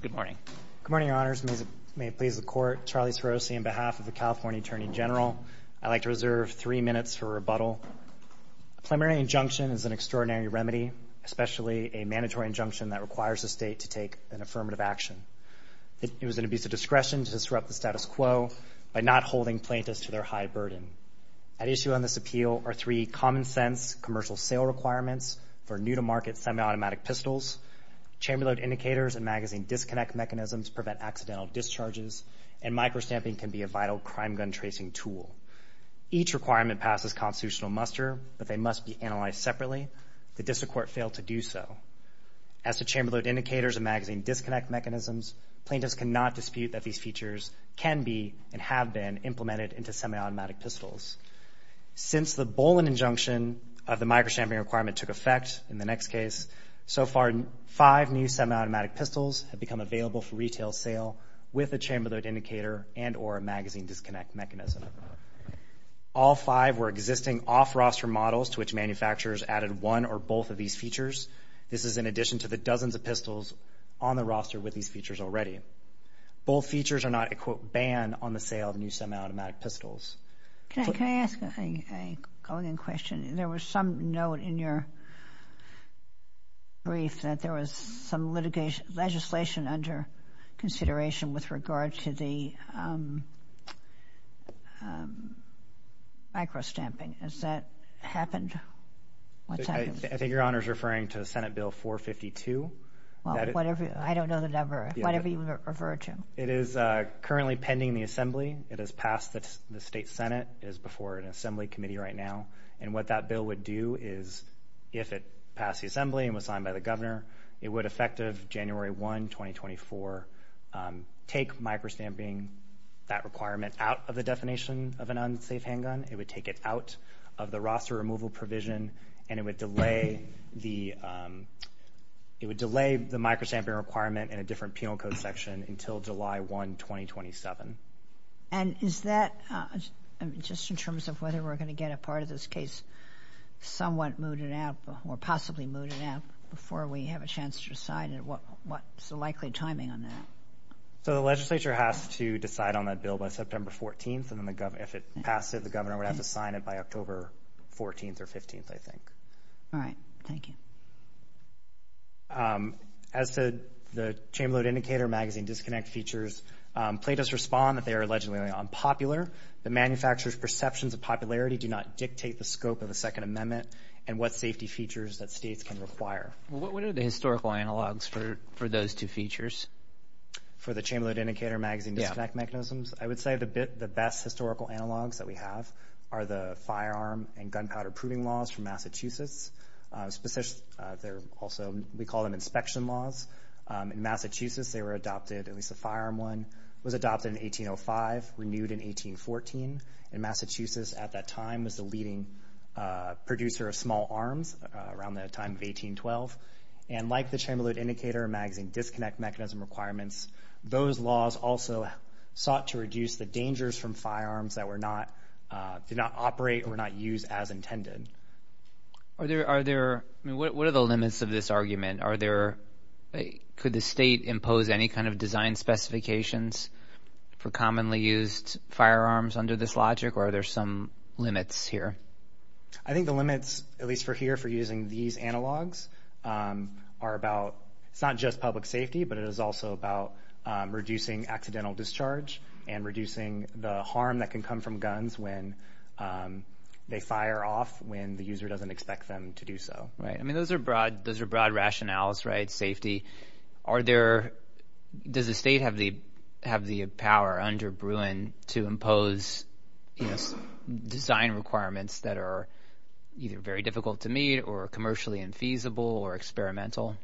Good morning. Good morning, Your Honors. May it please the Court, Charlie Sporosi, on behalf of the California Attorney General, I'd like to reserve three minutes for rebuttal. A preliminary injunction is an extraordinary remedy, especially a mandatory injunction that requires the state to take an affirmative action. It was an abuse of discretion to disrupt the status quo by not holding plaintiffs to their high burden. At issue on this appeal are three common-sense commercial sale requirements for new-to-market semi-automatic pistols. Chamber load indicators and magazine disconnect mechanisms prevent accidental discharges, and micro-stamping can be a vital crime gun tracing tool. Each requirement passes constitutional muster, but they must be analyzed separately. The District Court failed to do so. As to chamber load indicators and magazine disconnect mechanisms, plaintiffs cannot dispute that these features can be and have been implemented into semi-automatic pistols. Since the Bolin injunction of the micro-stamping requirement took effect in the next case, so far five new semi-automatic pistols have become available for retail sale with a chamber load indicator and or a magazine disconnect mechanism. All five were existing off-roster models to which manufacturers added one or both of these features. This is in addition to the dozens of pistols on the roster with these features already. Both features are not a, quote, ban on the sale of new semi-automatic pistols. Can I ask a question? There was some note in your brief that there was some legislation under consideration with regard to the micro-stamping. Has that happened? I think Your Honor is referring to Senate Bill 452. I don't know the number. Whatever you refer to. It is currently pending the assembly. It has passed the State Senate. It is before an assembly committee right now. And what that bill would do is, if it passed the assembly and was signed by the governor, it would, effective January 1, 2024, take micro-stamping, that requirement, out of the definition of an unsafe handgun. It would take it out of the roster removal provision, and it would delay the micro-stamping requirement in a different penal code section until July 1, 2027. And is that, just in terms of whether we're going to get a part of this case somewhat mooted out or possibly mooted out before we have a chance to decide, what's the likely timing on that? So the legislature has to decide on that bill by September 14th, and if it passed it, the governor would have to sign it by October 14th or 15th, I think. All right. Thank you. As to the Chamberlain Indicator Magazine disconnect features, Plato's respond that they are allegedly unpopular. The manufacturer's perceptions of popularity do not dictate the scope of the Second Amendment and what safety features that states can require. What are the historical analogs for those two features? For the Chamberlain Indicator Magazine disconnect mechanisms? I would say the best historical analogs that we have are the firearm and gunpowder proving laws from Massachusetts. Also, we call them inspection laws. In Massachusetts, they were adopted, at least the firearm one was adopted in 1805, renewed in 1814. And Massachusetts, at that time, was the leading producer of small arms around the time of 1812. And like the Chamberlain Indicator Magazine disconnect mechanism requirements, those laws also sought to reduce the dangers from firearms that did not operate or not use as intended. What are the limits of this argument? Could the state impose any kind of design specifications for commonly used firearms under this logic, or are there some limits here? I think the limits, at least for here, for using these analogs are about it's not just public safety, but it is also about reducing accidental discharge and reducing the harm that can come from guns when they fire off when the user doesn't expect them to do so. Those are broad rationales, right, safety. Does the state have the power under Bruin to impose design requirements that are either very difficult to meet or commercially infeasible or experimental?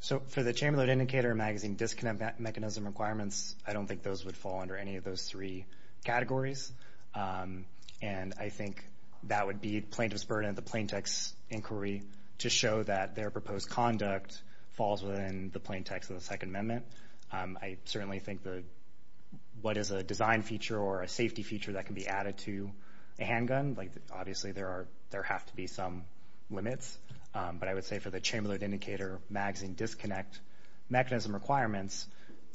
So for the Chamberlain Indicator Magazine disconnect mechanism requirements, I don't think those would fall under any of those three categories. And I think that would be plaintiff's burden of the plaintext inquiry to show that their proposed conduct falls within the plaintext of the Second Amendment. I certainly think that what is a design feature or a safety feature that can be added to a handgun, obviously there have to be some limits. But I would say for the Chamberlain Indicator Magazine disconnect mechanism requirements,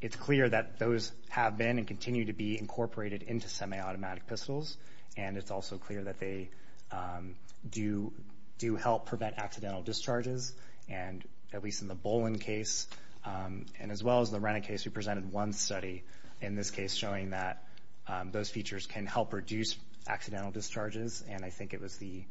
it's clear that those have been and continue to be incorporated into semiautomatic pistols, and it's also clear that they do help prevent accidental discharges, and at least in the Bolin case and as well as the Rennet case, we presented one study in this case showing that those features can help reduce accidental discharges. And I think it was the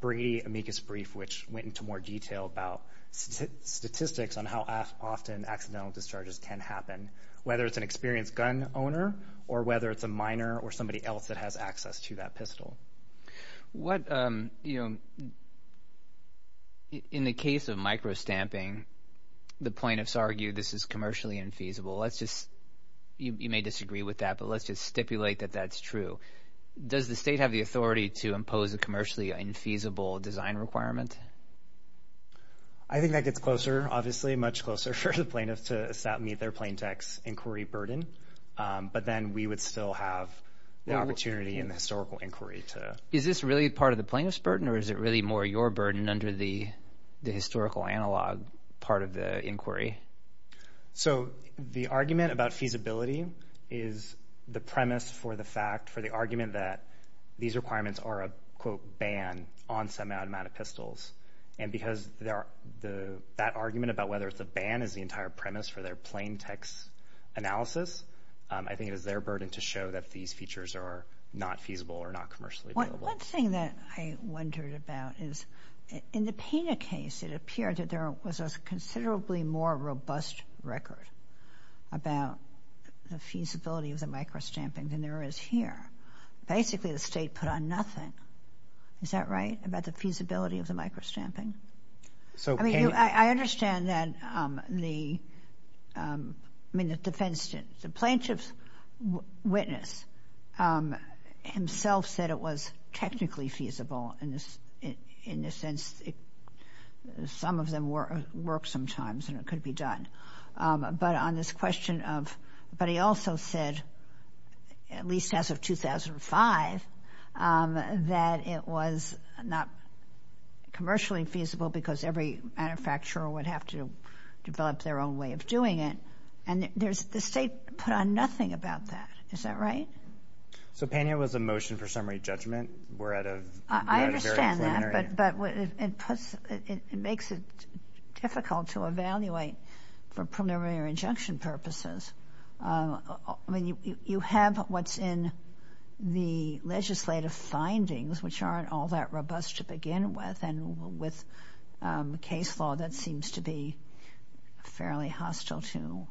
Brady amicus brief which went into more detail about statistics on how often accidental discharges can happen, whether it's an experienced gun owner or whether it's a minor or somebody else that has access to that pistol. What, you know, in the case of microstamping, the plaintiffs argue this is commercially infeasible. Let's just, you may disagree with that, but let's just stipulate that that's true. Does the state have the authority to impose a commercially infeasible design requirement? I think that gets closer, obviously, much closer for the plaintiffs to meet their plaintext inquiry burden, but then we would still have the opportunity in the historical inquiry to. Is this really part of the plaintiff's burden, or is it really more your burden under the historical analog part of the inquiry? So the argument about feasibility is the premise for the fact, for the argument that these requirements are a, quote, ban on some amount of pistols. And because that argument about whether it's a ban is the entire premise for their plaintext analysis, I think it is their burden to show that these features are not feasible or not commercially available. One thing that I wondered about is in the Pena case, it appeared that there was a considerably more robust record about the feasibility of the microstamping than there is here. Basically, the state put on nothing. Is that right, about the feasibility of the microstamping? I mean, I understand that the, I mean, the defense, the plaintiff's witness himself said it was technically feasible in the sense some of them work sometimes and it could be done. But on this question of, but he also said, at least as of 2005, that it was not commercially feasible because every manufacturer would have to develop their own way of doing it. And there's, the state put on nothing about that. Is that right? So Pena was a motion for summary judgment? I understand that, but it makes it difficult to evaluate for preliminary injunction purposes. I mean, you have what's in the legislative findings, which aren't all that robust to begin with, and with case law that seems to be fairly hostile to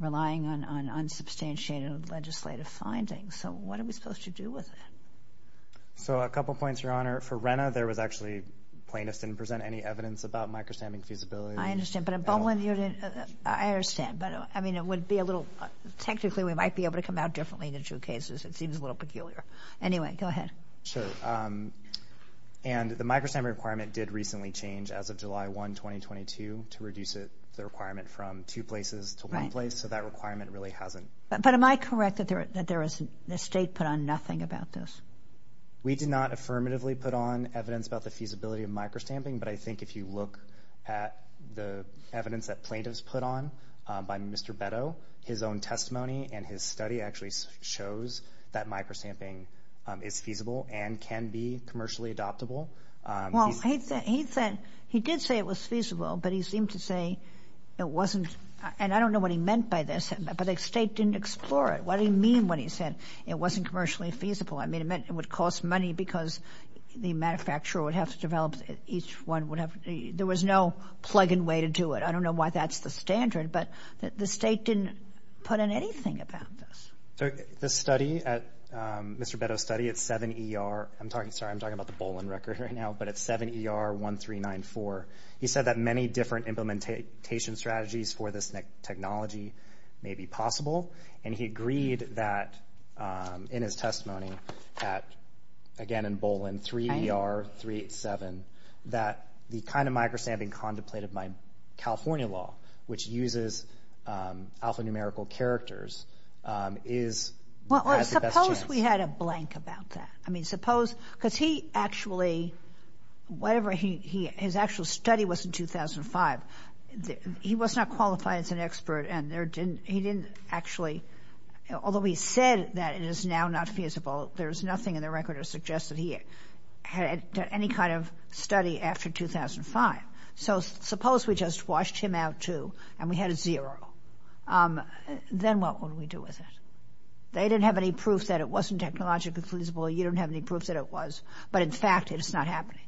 relying on unsubstantiated legislative findings. So what are we supposed to do with it? So a couple points, Your Honor. For Rhena, there was actually, plaintiffs didn't present any evidence about microstamping feasibility. I understand, but in Bowen, you didn't, I understand. But, I mean, it would be a little, technically we might be able to come out differently in the two cases. It seems a little peculiar. Anyway, go ahead. Sure. And the microstamping requirement did recently change as of July 1, 2022, to reduce the requirement from two places to one place. So that requirement really hasn't. But am I correct that the state put on nothing about this? We did not affirmatively put on evidence about the feasibility of microstamping, but I think if you look at the evidence that plaintiffs put on by Mr. Betto, his own testimony and his study actually shows that microstamping is feasible and can be commercially adoptable. Well, he did say it was feasible, but he seemed to say it wasn't, and I don't know what he meant by this, but the state didn't explore it. What did he mean when he said it wasn't commercially feasible? I mean, it meant it would cost money because the manufacturer would have to develop, each one would have, there was no plug-in way to do it. I don't know why that's the standard, but the state didn't put on anything about this. The study at, Mr. Betto's study at 7ER, I'm talking, sorry, I'm talking about the Bowen record right now, but at 7ER 1394, he said that many different implementation strategies for this technology may be possible, and he agreed that in his testimony at, again, in Bolin, 3ER 387, that the kind of microstamping contemplated by California law, which uses alphanumerical characters, is the best chance. Well, suppose we had a blank about that. I mean, suppose, because he actually, whatever his actual study was in 2005, he was not qualified as an expert, and there didn't, he didn't actually, although he said that it is now not feasible, there's nothing in the record that suggests that he had any kind of study after 2005. So suppose we just washed him out, too, and we had a zero. Then what would we do with it? They didn't have any proof that it wasn't technologically feasible. You don't have any proof that it was. But, in fact, it's not happening.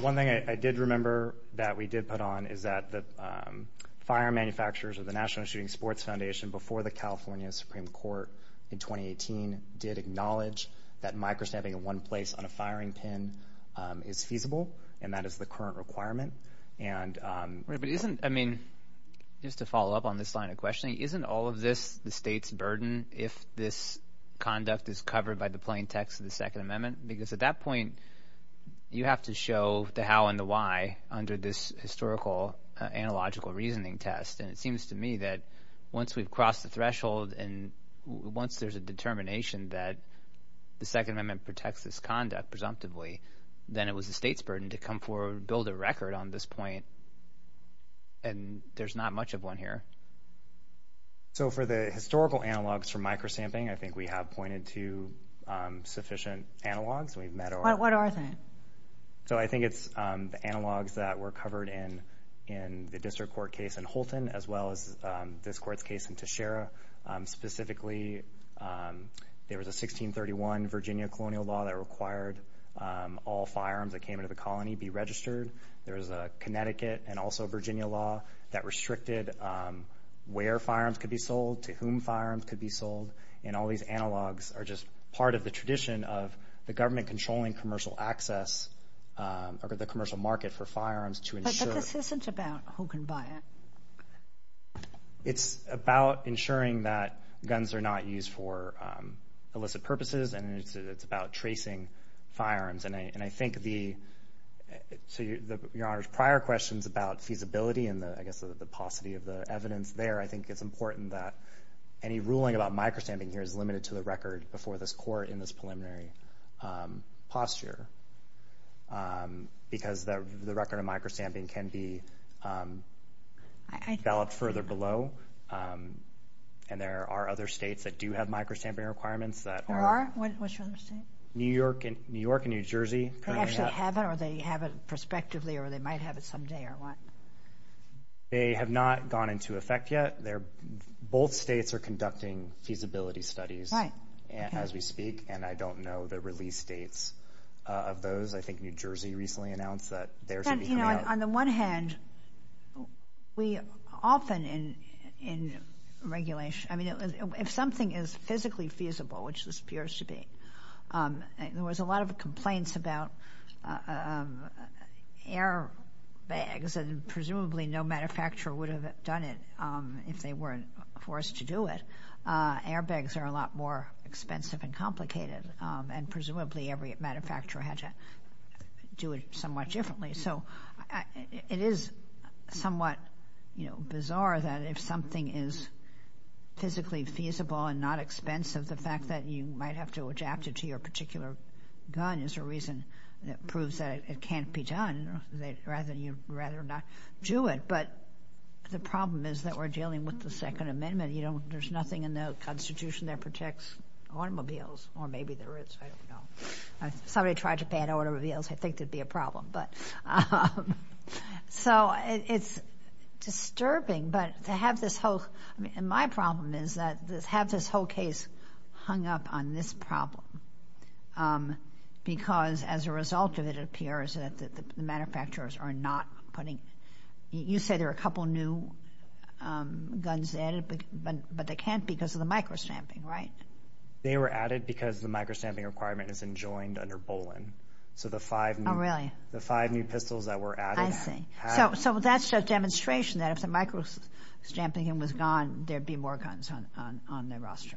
One thing I did remember that we did put on is that the fire manufacturers of the National Shooting Sports Foundation before the California Supreme Court in 2018 did acknowledge that microstamping in one place on a firing pin is feasible, and that is the current requirement. But isn't, I mean, just to follow up on this line of questioning, isn't all of this the state's burden if this conduct is covered by the plain text of the Second Amendment? Because at that point you have to show the how and the why under this historical analogical reasoning test. And it seems to me that once we've crossed the threshold and once there's a determination that the Second Amendment protects this conduct presumptively, then it was the state's burden to come forward and build a record on this point, and there's not much of one here. So for the historical analogs for microstamping, I think we have pointed to sufficient analogs. What are they? So I think it's the analogs that were covered in the district court case in Holton as well as this court's case in Teixeira. Specifically, there was a 1631 Virginia colonial law that required all firearms that came into the colony be registered. There was a Connecticut and also Virginia law that restricted where firearms could be sold, to whom firearms could be sold. And all these analogs are just part of the tradition of the government controlling commercial access or the commercial market for firearms to ensure. But this isn't about who can buy it. It's about ensuring that guns are not used for illicit purposes, and it's about tracing firearms. And I think the prior questions about feasibility and, I guess, the paucity of the evidence there, I think it's important that any ruling about microstamping here is limited to the record before this court in this preliminary posture because the record of microstamping can be developed further below. And there are other states that do have microstamping requirements that are. There are? Which other states? New York and New Jersey. They actually have it, or they have it prospectively, or they might have it someday, or what? They have not gone into effect yet. Both states are conducting feasibility studies as we speak, and I don't know the release dates of those. I think New Jersey recently announced that there should be coming out. On the one hand, we often in regulation, I mean, if something is physically feasible, which this appears to be, there was a lot of complaints about airbags, and presumably no manufacturer would have done it if they weren't forced to do it. Airbags are a lot more expensive and complicated, and presumably every manufacturer had to do it somewhat differently. So it is somewhat, you know, bizarre that if something is physically feasible and not expensive, the fact that you might have to adapt it to your particular gun is a reason that proves that it can't be done, rather than you'd rather not do it. But the problem is that we're dealing with the Second Amendment. You know, there's nothing in the Constitution that protects automobiles, or maybe there is. I don't know. Somebody tried to pay at Auto Reveals. I think there'd be a problem. So it's disturbing, but to have this whole, I mean, my problem is that to have this whole case hung up on this problem because as a result of it, it appears that the manufacturers are not putting, you say there are a couple new guns added, but they can't because of the micro-stamping, right? They were added because the micro-stamping requirement is enjoined under Bolin. Oh, really? So the five new pistols that were added. I see. So that's a demonstration that if the micro-stamping was gone, there'd be more guns on the roster.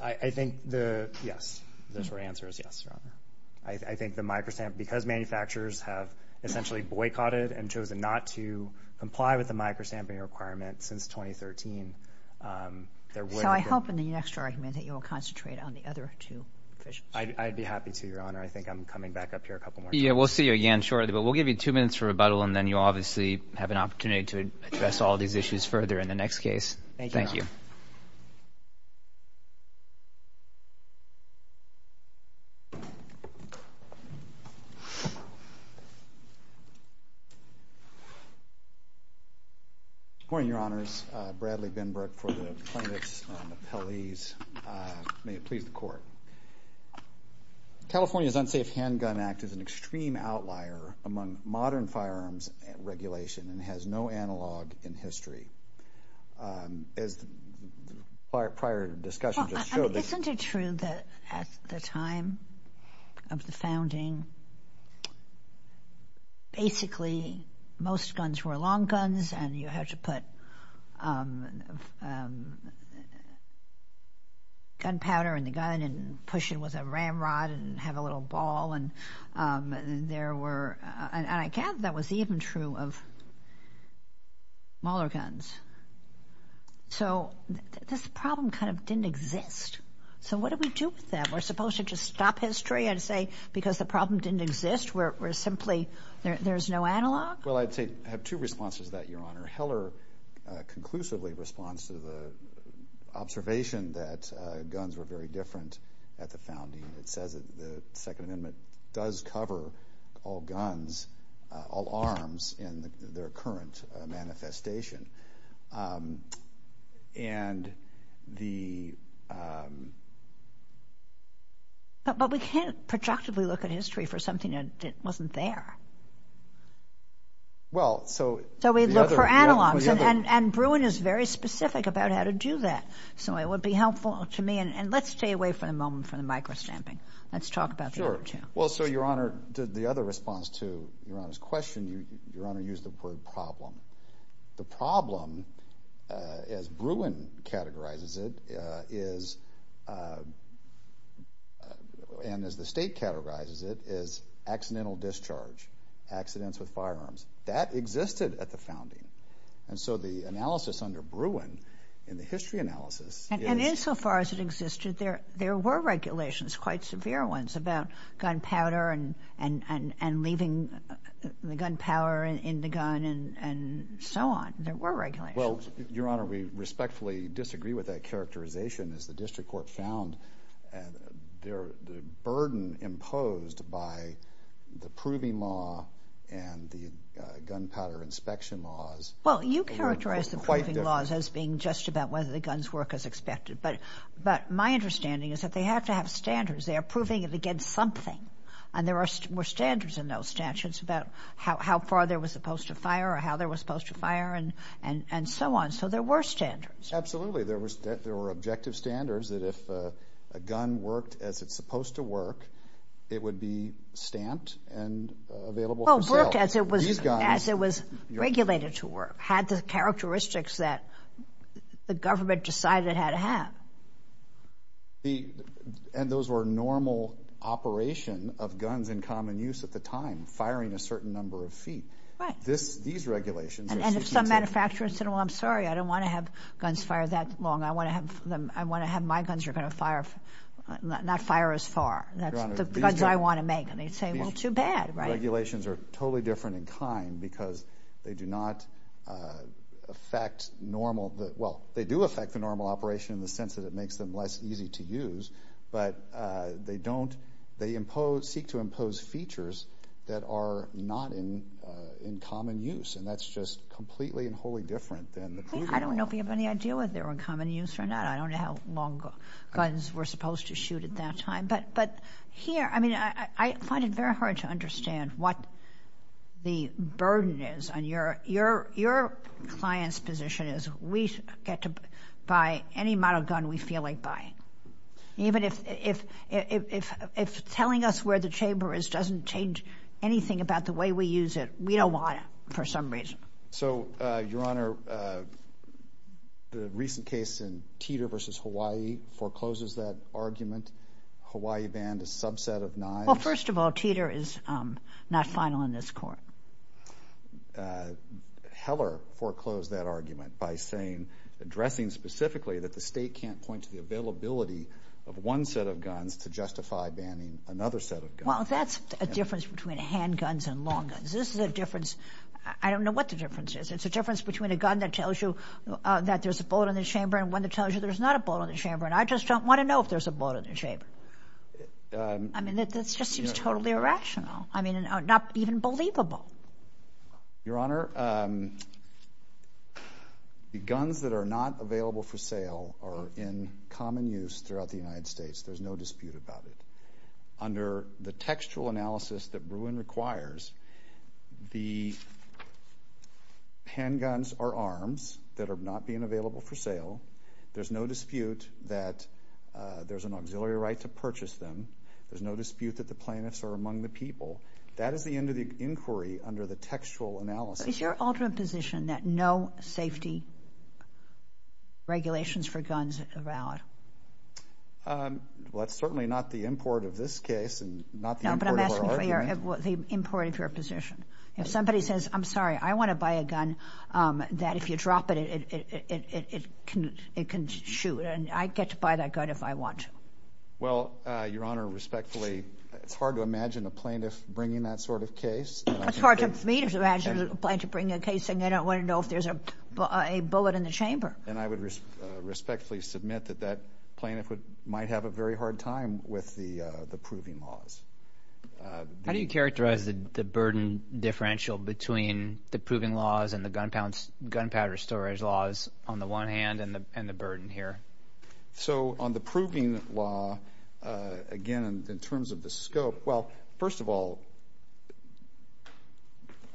I think the, yes, those were answers, yes, Your Honor. I think the micro-stamp, because manufacturers have essentially boycotted and chosen not to comply with the micro-stamping requirement since 2013, there would have been. So I hope in the next argument that you will concentrate on the other two officials. I'd be happy to, Your Honor. I think I'm coming back up here a couple more times. Yeah, we'll see you again shortly, but we'll give you two minutes for rebuttal, and then you'll obviously have an opportunity to address all these issues further in the next case. Thank you, Your Honor. Good morning, Your Honors. Bradley Binbrook for the plaintiffs' appellees. May it please the Court. California's Unsafe Handgun Act is an extreme outlier among modern firearms regulation and has no analog in history. As the prior discussion just showed. Isn't it true that at the time of the founding, basically most guns were long guns and you had to put gunpowder in the gun and push it with a ramrod and have a little ball, and I gather that was even true of Mahler guns. So this problem kind of didn't exist. So what do we do with that? We're supposed to just stop history and say because the problem didn't exist, we're simply, there's no analog? Well, I'd say I have two responses to that, Your Honor. Heller conclusively responds to the observation that guns were very different at the founding. It says that the Second Amendment does cover all guns, all arms in their current manifestation. And the... But we can't productively look at history for something that wasn't there. Well, so... So we look for analogs, and Bruin is very specific about how to do that. So it would be helpful to me, and let's stay away for the moment from the micro-stamping. Let's talk about the other two. Sure. Well, so, Your Honor, the other response to Your Honor's question, Your Honor used the word problem. The problem, as Bruin categorizes it, is, and as the state categorizes it, is accidental discharge, accidents with firearms. That existed at the founding. And so the analysis under Bruin in the history analysis is... And insofar as it existed, there were regulations, quite severe ones, about gunpowder and leaving the gunpowder in the gun and so on. There were regulations. Well, Your Honor, we respectfully disagree with that characterization, as the district court found the burden imposed by the proving law and the gunpowder inspection laws... Well, you characterize the proving laws as being just about whether the guns work as expected, but my understanding is that they have to have standards. They are proving it against something, and there were standards in those statutes about how far there was supposed to fire or how there was supposed to fire and so on. So there were standards. Absolutely. There were objective standards that if a gun worked as it's supposed to work, it would be stamped and available for sale. Well, it worked as it was regulated to work, had the characteristics that the government decided it had to have. And those were normal operation of guns in common use at the time, firing a certain number of feet. Right. These regulations... And if some manufacturer said, well, I'm sorry, I don't want to have guns fire that long. I want to have my guns that are going to fire, not fire as far. That's the guns I want to make. And they'd say, well, too bad, right? These regulations are totally different in kind because they do not affect normal... Well, they do affect the normal operation in the sense that it makes them less easy to use, but they don't... They impose... Seek to impose features that are not in common use, and that's just completely and wholly different than the proving law. I don't know if you have any idea whether they were in common use or not. I don't know how long guns were supposed to shoot at that time. But here, I mean, I find it very hard to understand what the burden is. Your client's position is we get to buy any model gun we feel like buying. Even if telling us where the chamber is doesn't change anything about the way we use it, we don't want it for some reason. So, Your Honor, the recent case in Teeter v. Hawaii forecloses that argument. Hawaii banned a subset of knives. Well, first of all, Teeter is not final in this court. Heller foreclosed that argument by saying, addressing specifically that the state can't point to the availability of one set of guns to justify banning another set of guns. Well, that's a difference between handguns and long guns. This is a difference... I don't know what the difference is. It's a difference between a gun that tells you that there's a bullet in the chamber and one that tells you there's not a bullet in the chamber, and I just don't want to know if there's a bullet in the chamber. I mean, that just seems totally irrational. I mean, not even believable. Your Honor, the guns that are not available for sale are in common use throughout the United States. There's no dispute about it. Under the textual analysis that Bruin requires, the handguns are arms that are not being available for sale. There's no dispute that there's an auxiliary right to purchase them. There's no dispute that the plaintiffs are among the people. That is the end of the inquiry under the textual analysis. Is your ultimate position that no safety regulations for guns are valid? Well, that's certainly not the import of this case and not the import of our argument. No, but I'm asking for the import of your position. If somebody says, I'm sorry, I want to buy a gun, that if you drop it, it can shoot, and I get to buy that gun if I want to. Well, Your Honor, respectfully, it's hard to imagine a plaintiff bringing that sort of case. It's hard for me to imagine a plaintiff bringing a case saying I don't want to know if there's a bullet in the chamber. And I would respectfully submit that that plaintiff might have a very hard time with the proving laws. How do you characterize the burden differential between the proving laws and the gunpowder storage laws on the one hand and the burden here? So on the proving law, again, in terms of the scope, well, first of all,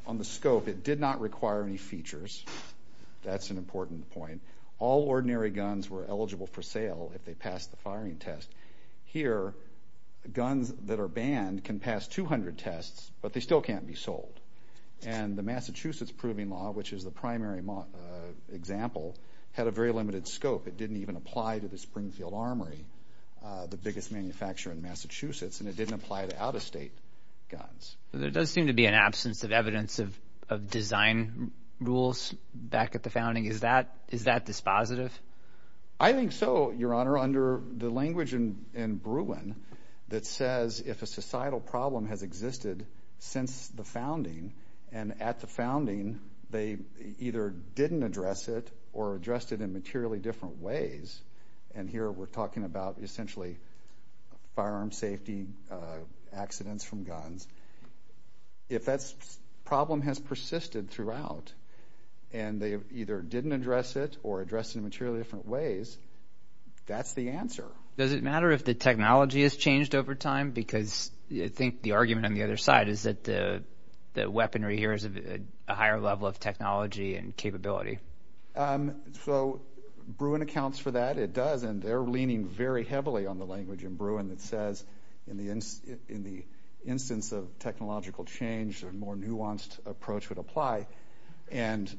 on the scope, it did not require any features. That's an important point. All ordinary guns were eligible for sale if they passed the firing test. Here, guns that are banned can pass 200 tests, but they still can't be sold. And the Massachusetts proving law, which is the primary example, had a very limited scope. It didn't even apply to the Springfield Armory, the biggest manufacturer in Massachusetts, and it didn't apply to out-of-state guns. There does seem to be an absence of evidence of design rules back at the founding. Is that dispositive? I think so, Your Honor. Under the language in Bruin that says if a societal problem has existed since the founding and at the founding they either didn't address it or addressed it in materially different ways, and here we're talking about essentially firearm safety, accidents from guns, if that problem has persisted throughout and they either didn't address it or addressed it in materially different ways, that's the answer. Does it matter if the technology has changed over time? Because I think the argument on the other side is that the weaponry here is a higher level of technology and capability. So Bruin accounts for that. It does, and they're leaning very heavily on the language in Bruin that says in the instance of technological change, a more nuanced approach would apply. And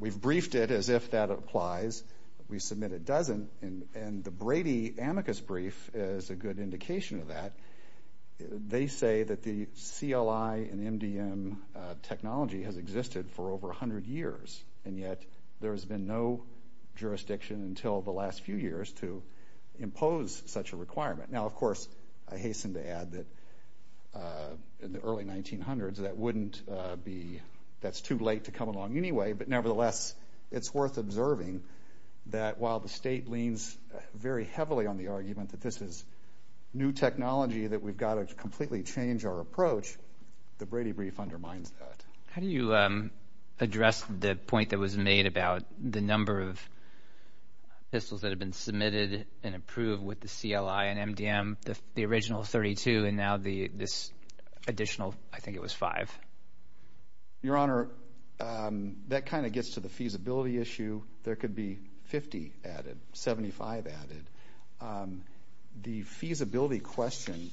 we've briefed it as if that applies. We submit it doesn't, and the Brady amicus brief is a good indication of that. They say that the CLI and MDM technology has existed for over 100 years, and yet there has been no jurisdiction until the last few years to impose such a requirement. Now, of course, I hasten to add that in the early 1900s that wouldn't be that's too late to come along anyway, but nevertheless it's worth observing that while the state leans very heavily on the argument that this is new technology that we've got to completely change our approach, the Brady brief undermines that. How do you address the point that was made about the number of pistols that have been submitted and approved with the CLI and MDM, the original 32, and now this additional, I think it was five? Your Honor, that kind of gets to the feasibility issue. There could be 50 added, 75 added. The feasibility question,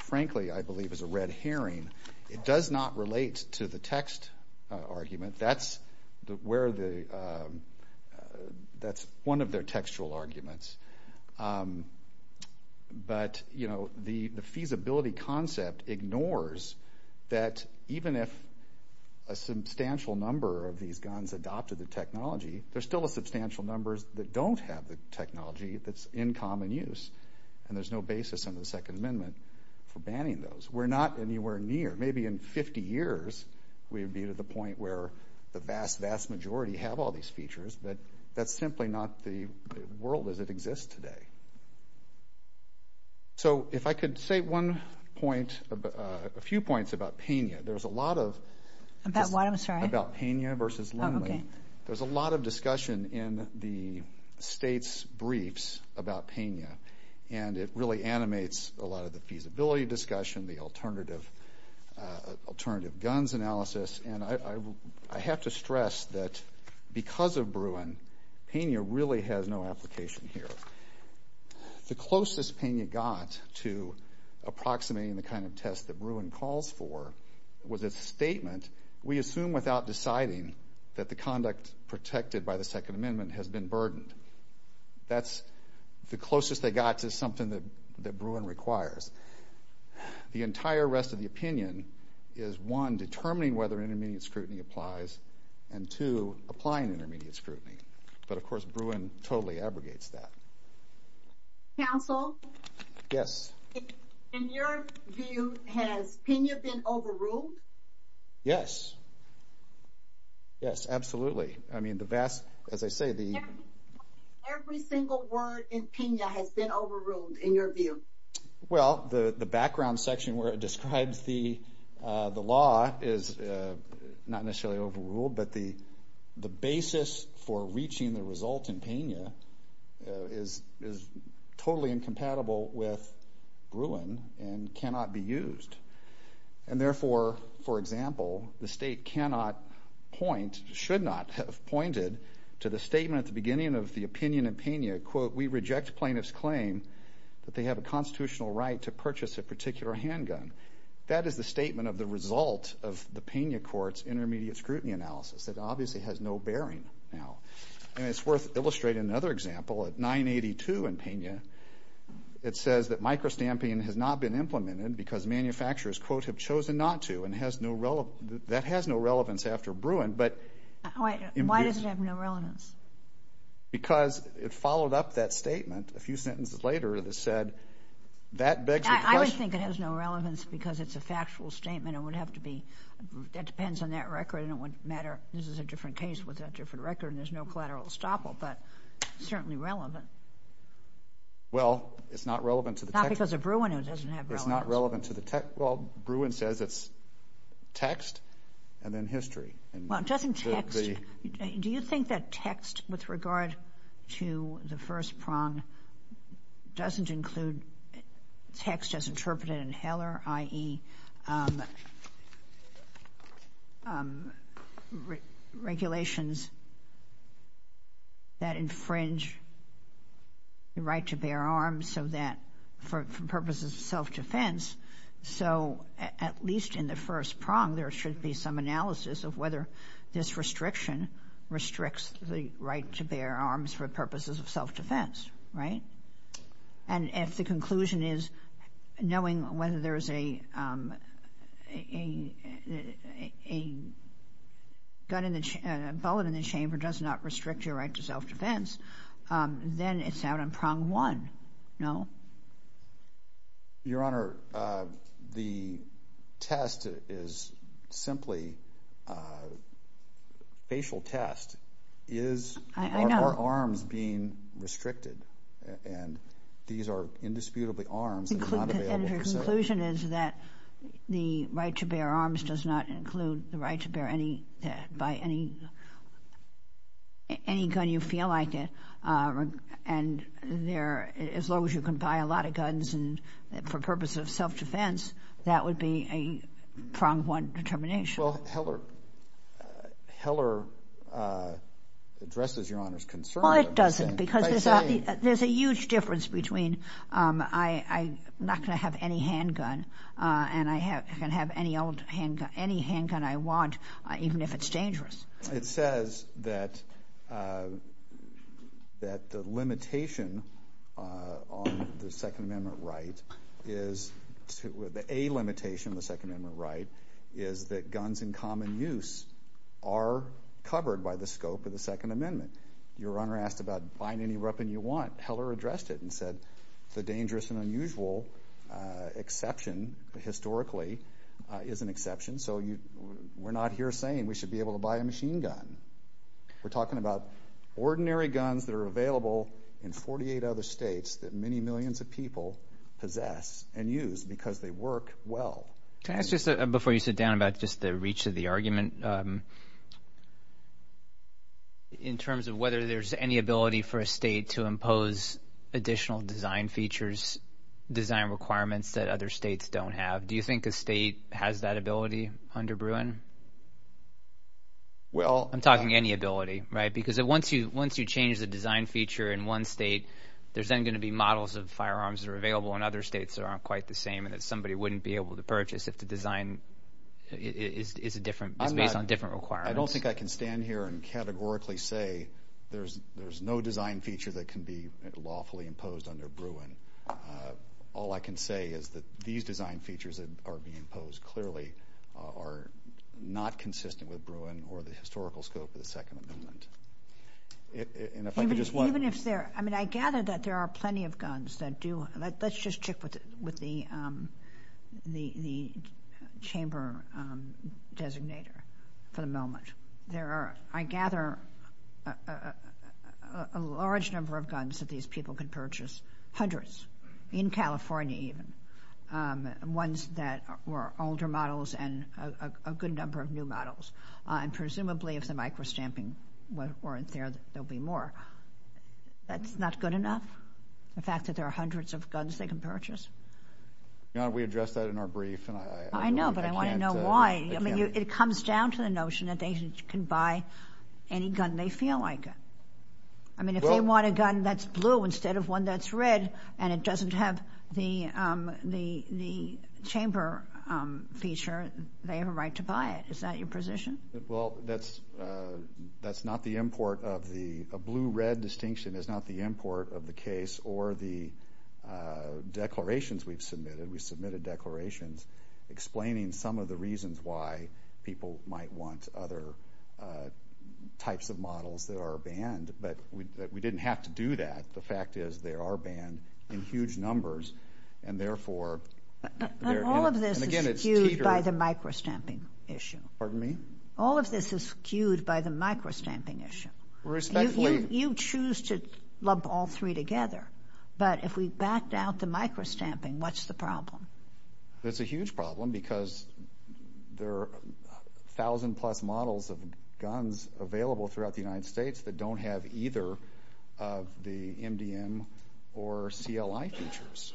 frankly, I believe is a red herring. It does not relate to the text argument. That's one of their textual arguments. But the feasibility concept ignores that even if a substantial number of these guns adopted the technology, there are still substantial numbers that don't have the technology that's in common use, and there's no basis under the Second Amendment for banning those. We're not anywhere near. Maybe in 50 years we'd be to the point where the vast, vast majority have all these features, but that's simply not the world as it exists today. So if I could say one point, a few points about PENA. There's a lot of discussion in the state's briefs about PENA, and it really animates a lot of the feasibility discussion, the alternative guns analysis. I have to stress that because of Bruin, PENA really has no application here. The closest PENA got to approximating the kind of test that Bruin calls for was its statement, we assume without deciding that the conduct protected by the Second Amendment has been burdened. That's the closest they got to something that Bruin requires. The entire rest of the opinion is, one, determining whether intermediate scrutiny applies, and, two, applying intermediate scrutiny. But, of course, Bruin totally abrogates that. Counsel? Yes. In your view, has PENA been overruled? Yes. Yes, absolutely. Every single word in PENA has been overruled, in your view. Well, the background section where it describes the law is not necessarily overruled, but the basis for reaching the result in PENA is totally incompatible with Bruin and cannot be used. And, therefore, for example, the state cannot point, should not have pointed to the statement at the beginning of the opinion in PENA, quote, we reject plaintiff's claim that they have a constitutional right to purchase a particular handgun. That is the statement of the result of the PENA court's intermediate scrutiny analysis. It obviously has no bearing now. And it's worth illustrating another example. At 982 in PENA, it says that micro-stamping has not been implemented because manufacturers, quote, have chosen not to, and that has no relevance after Bruin, but Why does it have no relevance? Because it followed up that statement a few sentences later that said, that begs the question. I would think it has no relevance because it's a factual statement. It would have to be, that depends on that record, and it would matter. This is a different case with a different record, and there's no collateral estoppel, but certainly relevant. Well, it's not relevant to the text. Not because of Bruin, it doesn't have relevance. It's not relevant to the text. Well, Bruin says it's text and then history. Well, it doesn't text. Do you think that text with regard to the first prong doesn't include text as interpreted in Heller, i.e., regulations that infringe the right to bear arms so that, for purposes of self-defense, so at least in the first prong, there should be some analysis of whether this restriction restricts the right to bear arms for purposes of self-defense, right? And if the conclusion is, knowing whether there's a bullet in the chamber does not restrict your right to self-defense, then it's out on prong one, no? Your Honor, the test is simply a facial test. Is our arms being restricted? And these are indisputably arms that are not available for self-defense. And your conclusion is that the right to bear arms does not include the right to bear any, any gun you feel like it. And there, as long as you can buy a lot of guns for purposes of self-defense, that would be a prong one determination. Well, Heller addresses Your Honor's concern. Well, it doesn't because there's a huge difference between I'm not going to have any handgun and I can have any old handgun, any handgun I want, even if it's dangerous. It says that the limitation on the Second Amendment right is, the A limitation on the Second Amendment right is that guns in common use are covered by the scope of the Second Amendment. Your Honor asked about buying any weapon you want. Heller addressed it and said the dangerous and unusual exception, historically, is an exception. So we're not here saying we should be able to buy a machine gun. We're talking about ordinary guns that are available in 48 other states that many millions of people possess and use because they work well. Can I ask just before you sit down about just the reach of the argument in terms of whether there's any ability for a state to impose additional design features, design requirements that other states don't have. Do you think a state has that ability under Bruin? I'm talking any ability, right? Because once you change the design feature in one state, there's then going to be models of firearms that are available in other states that aren't quite the same and that somebody wouldn't be able to purchase if the design is different. I don't think I can stand here and categorically say there's no design feature that can be lawfully imposed under Bruin. All I can say is that these design features that are being imposed clearly are not consistent with Bruin or the historical scope of the Second Amendment. Even if they're, I mean, I gather that there are plenty of guns that do, let's just check with the chamber designator for the moment. There are, I gather, a large number of guns that these people can purchase, hundreds in California even, ones that were older models and a good number of new models. And presumably if the micro-stamping weren't there, there'll be more. That's not good enough? The fact that there are hundreds of guns they can purchase? Your Honor, we addressed that in our brief. I know, but I want to know why. I mean, it comes down to the notion that they can buy any gun they feel like. I mean, if they want a gun that's blue instead of one that's red and it doesn't have the chamber feature, they have a right to buy it. Is that your position? Well, that's not the import of the blue-red distinction. It's not the import of the case or the declarations we've submitted. We submitted declarations explaining some of the reasons why people might want other types of models that are banned. But we didn't have to do that. The fact is they are banned in huge numbers, and therefore, And all of this is skewed by the micro-stamping issue. Pardon me? All of this is skewed by the micro-stamping issue. Respectfully. You choose to lump all three together, but if we backed out the micro-stamping, what's the problem? It's a huge problem because there are 1,000-plus models of guns available throughout the United States that don't have either of the MDM or CLI features.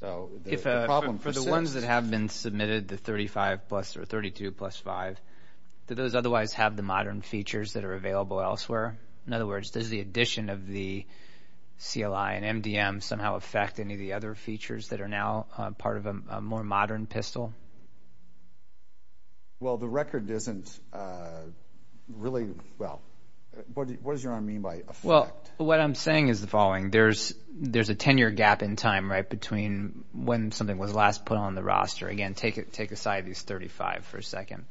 So the problem persists. For the ones that have been submitted, the 35 plus or 32 plus 5, do those otherwise have the modern features that are available elsewhere? In other words, does the addition of the CLI and MDM somehow affect any of the other features that are now part of a more modern pistol? Well, the record isn't really, well, what does your honor mean by affect? Well, what I'm saying is the following. There's a 10-year gap in time, right, between when something was last put on the roster. Again, take aside these 35 for a second.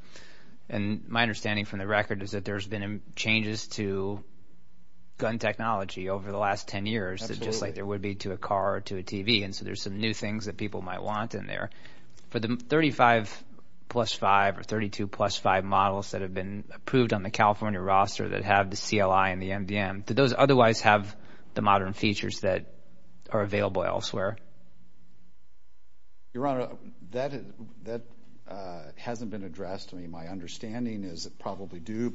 And my understanding from the record is that there's been changes to gun technology over the last 10 years, just like there would be to a car or to a TV. And so there's some new things that people might want in there. For the 35 plus 5 or 32 plus 5 models that have been approved on the California roster that have the CLI and the MDM, do those otherwise have the modern features that are available elsewhere? Your honor, that hasn't been addressed. My understanding is it probably do,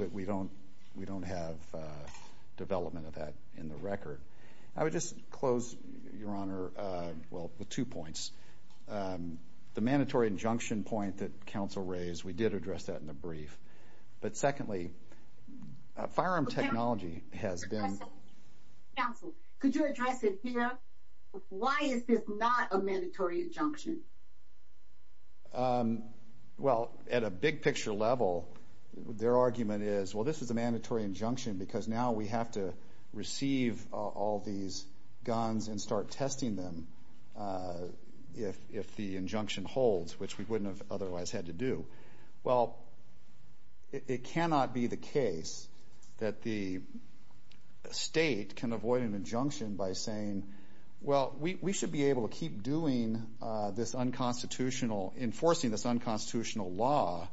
I would just close, your honor, well, with two points. The mandatory injunction point that counsel raised, we did address that in the brief. But secondly, firearm technology has been. Counsel, could you address it here? Why is this not a mandatory injunction? Well, at a big picture level, their argument is, well, this is a mandatory injunction because now we have to receive all these guns and start testing them if the injunction holds, which we wouldn't have otherwise had to do. Well, it cannot be the case that the state can avoid an injunction by saying, well, we should be able to keep doing this unconstitutional, enforcing this unconstitutional law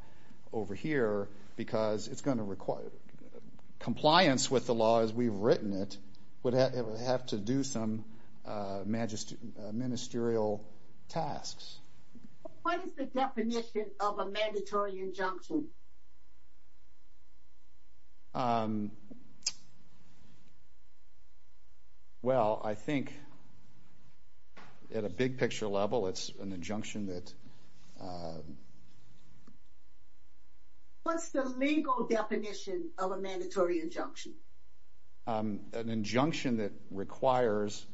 over here because compliance with the law as we've written it would have to do some ministerial tasks. What is the definition of a mandatory injunction? Well, I think at a big picture level, it's an injunction that. What's the legal definition of a mandatory injunction? An injunction that requires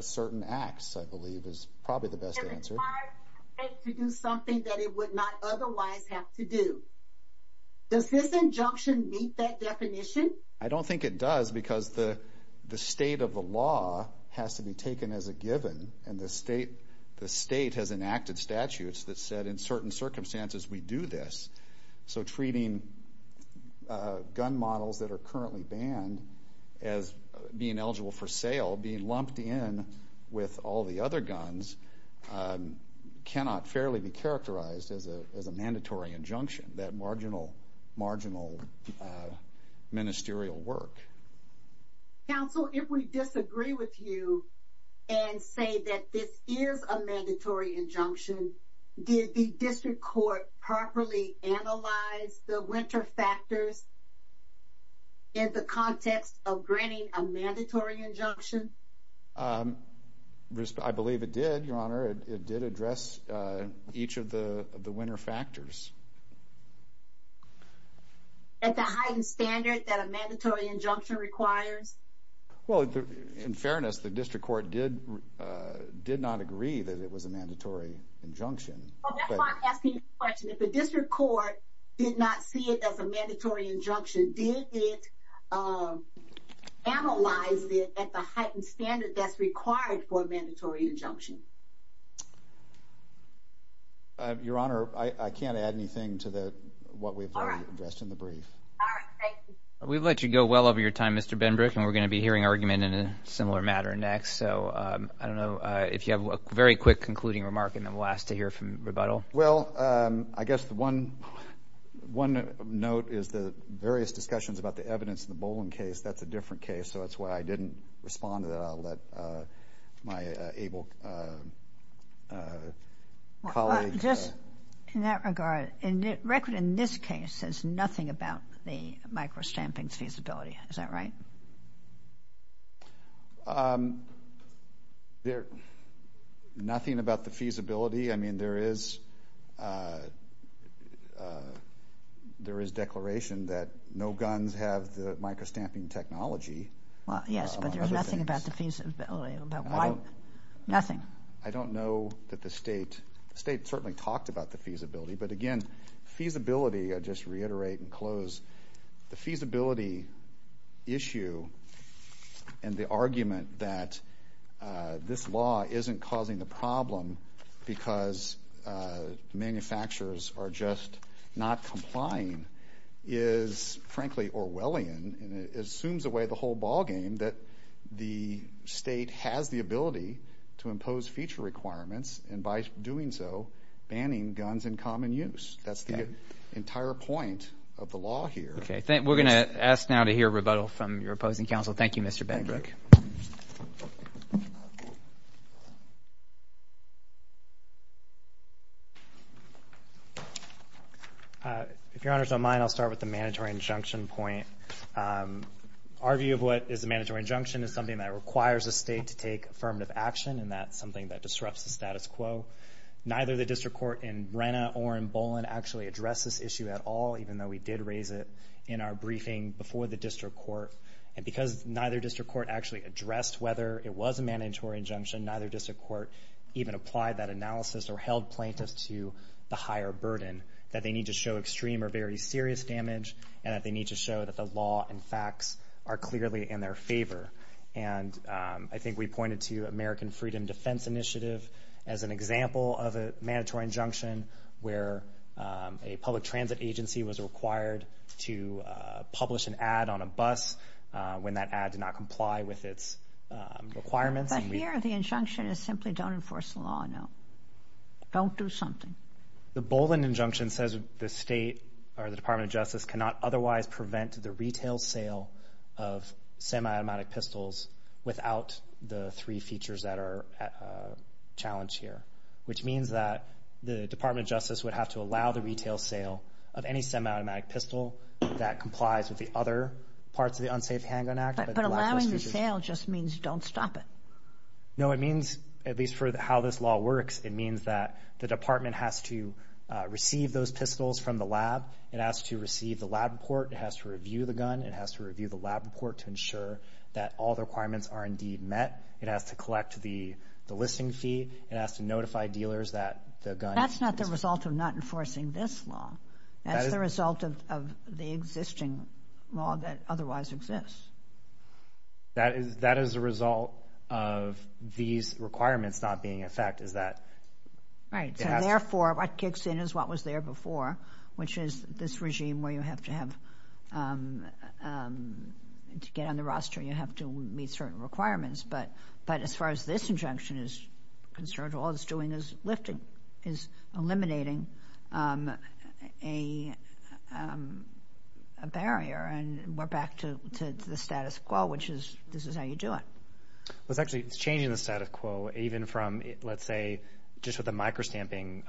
certain acts, I believe, is probably the best answer. It requires the state to do something that it would not otherwise have to do. Does this injunction meet that definition? I don't think it does because the state of the law has to be taken as a given, and the state has enacted statutes that said in certain circumstances we do this. So treating gun models that are currently banned as being eligible for sale, being lumped in with all the other guns, cannot fairly be characterized as a mandatory injunction, that marginal ministerial work. Counsel, if we disagree with you and say that this is a mandatory injunction, did the district court properly analyze the winter factors in the context of granting a mandatory injunction? I believe it did, Your Honor. It did address each of the winter factors. At the heightened standard that a mandatory injunction requires? Well, in fairness, the district court did not agree that it was a mandatory injunction. If the district court did not see it as a mandatory injunction, did it analyze it at the heightened standard that's required for a mandatory injunction? Your Honor, I can't add anything to what we've addressed in the brief. All right. Thank you. We've let you go well over your time, Mr. Benbrook, and we're going to be hearing argument in a similar matter next. So I don't know if you have a very quick concluding remark, and then we'll ask to hear from rebuttal. Well, I guess the one note is the various discussions about the evidence in the Boland case, that's a different case. So that's why I didn't respond to that. I'll let my able colleague. Well, just in that regard, the record in this case says nothing about the micro-stamping feasibility. Is that right? Nothing about the feasibility. I mean, there is declaration that no guns have the micro-stamping technology. Well, yes, but there's nothing about the feasibility. Nothing. I don't know that the State certainly talked about the feasibility. But, again, feasibility, I'll just reiterate and close, the feasibility issue and the argument that this law isn't causing the problem because manufacturers are just not complying is, frankly, Orwellian. And it assumes away the whole ballgame that the State has the ability to impose feature requirements, and by doing so, banning guns in common use. That's the entire point of the law here. Okay. We're going to ask now to hear rebuttal from your opposing counsel. Thank you, Mr. Benbrook. Thank you. If your honors don't mind, I'll start with the mandatory injunction point. Our view of what is a mandatory injunction is something that requires the State to take affirmative action, and that's something that disrupts the status quo. Neither the district court in Brenna or in Boland actually addressed this issue at all, even though we did raise it in our briefing before the district court. And because neither district court actually addressed whether it was a mandatory injunction, neither district court even applied that analysis or held plaintiffs to the higher burden, that they need to show extreme or very serious damage, and that they need to show that the law and facts are clearly in their favor. And I think we pointed to American Freedom Defense Initiative as an example of a mandatory injunction where a public transit agency was required to publish an ad on a bus when that ad did not comply with its requirements. But here the injunction is simply don't enforce the law, no. Don't do something. The Boland injunction says the State or the Department of Justice cannot otherwise prevent the retail sale of semi-automatic pistols without the three features that are challenged here, which means that the Department of Justice would have to allow the retail sale of any semi-automatic pistol that complies with the other parts of the Unsafe Handgun Act. But allowing the sale just means don't stop it. No, it means, at least for how this law works, it means that the department has to receive those pistols from the lab. It has to receive the lab report. It has to review the gun. It has to review the lab report to ensure that all the requirements are indeed met. It has to collect the listing fee. It has to notify dealers that the gun is— That's not the result of not enforcing this law. That's the result of the existing law that otherwise exists. That is a result of these requirements not being in effect. Is that— Right. So therefore, what kicks in is what was there before, which is this regime where you have to have—to get on the roster, you have to meet certain requirements. But as far as this injunction is concerned, all it's doing is lifting, is eliminating a barrier, and we're back to the status quo, which is this is how you do it. Well, it's actually changing the status quo even from, let's say, just with the microstamping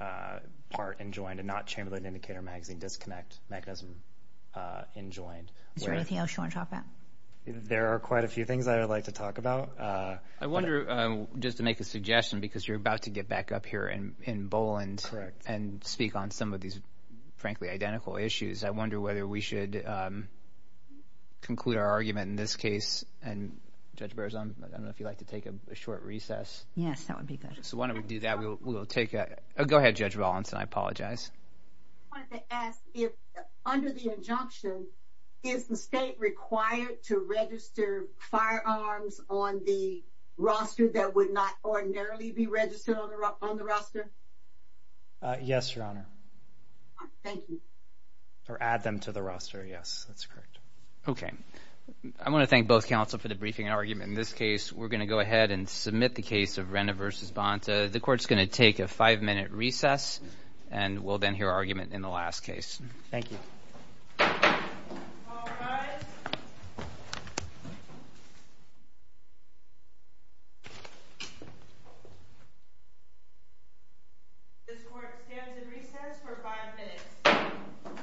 part enjoined and not Chamberlain Indicator Magazine Disconnect mechanism enjoined. Is there anything else you want to talk about? There are quite a few things I would like to talk about. I wonder, just to make a suggestion, because you're about to get back up here in Boland and speak on some of these, frankly, identical issues. I wonder whether we should conclude our argument in this case. And, Judge Berzon, I don't know if you'd like to take a short recess. Yes, that would be good. So why don't we do that. We'll take a—go ahead, Judge Rollins, and I apologize. I wanted to ask if, under the injunction, is the state required to register firearms on the roster that would not ordinarily be registered on the roster? Yes, Your Honor. Thank you. Or add them to the roster, yes. That's correct. Okay. I want to thank both counsel for the briefing argument. In this case, we're going to go ahead and submit the case of Renna v. Bonta. The court's going to take a five-minute recess, and we'll then hear argument in the last case. Thank you. All rise. This court stands in recess for five minutes.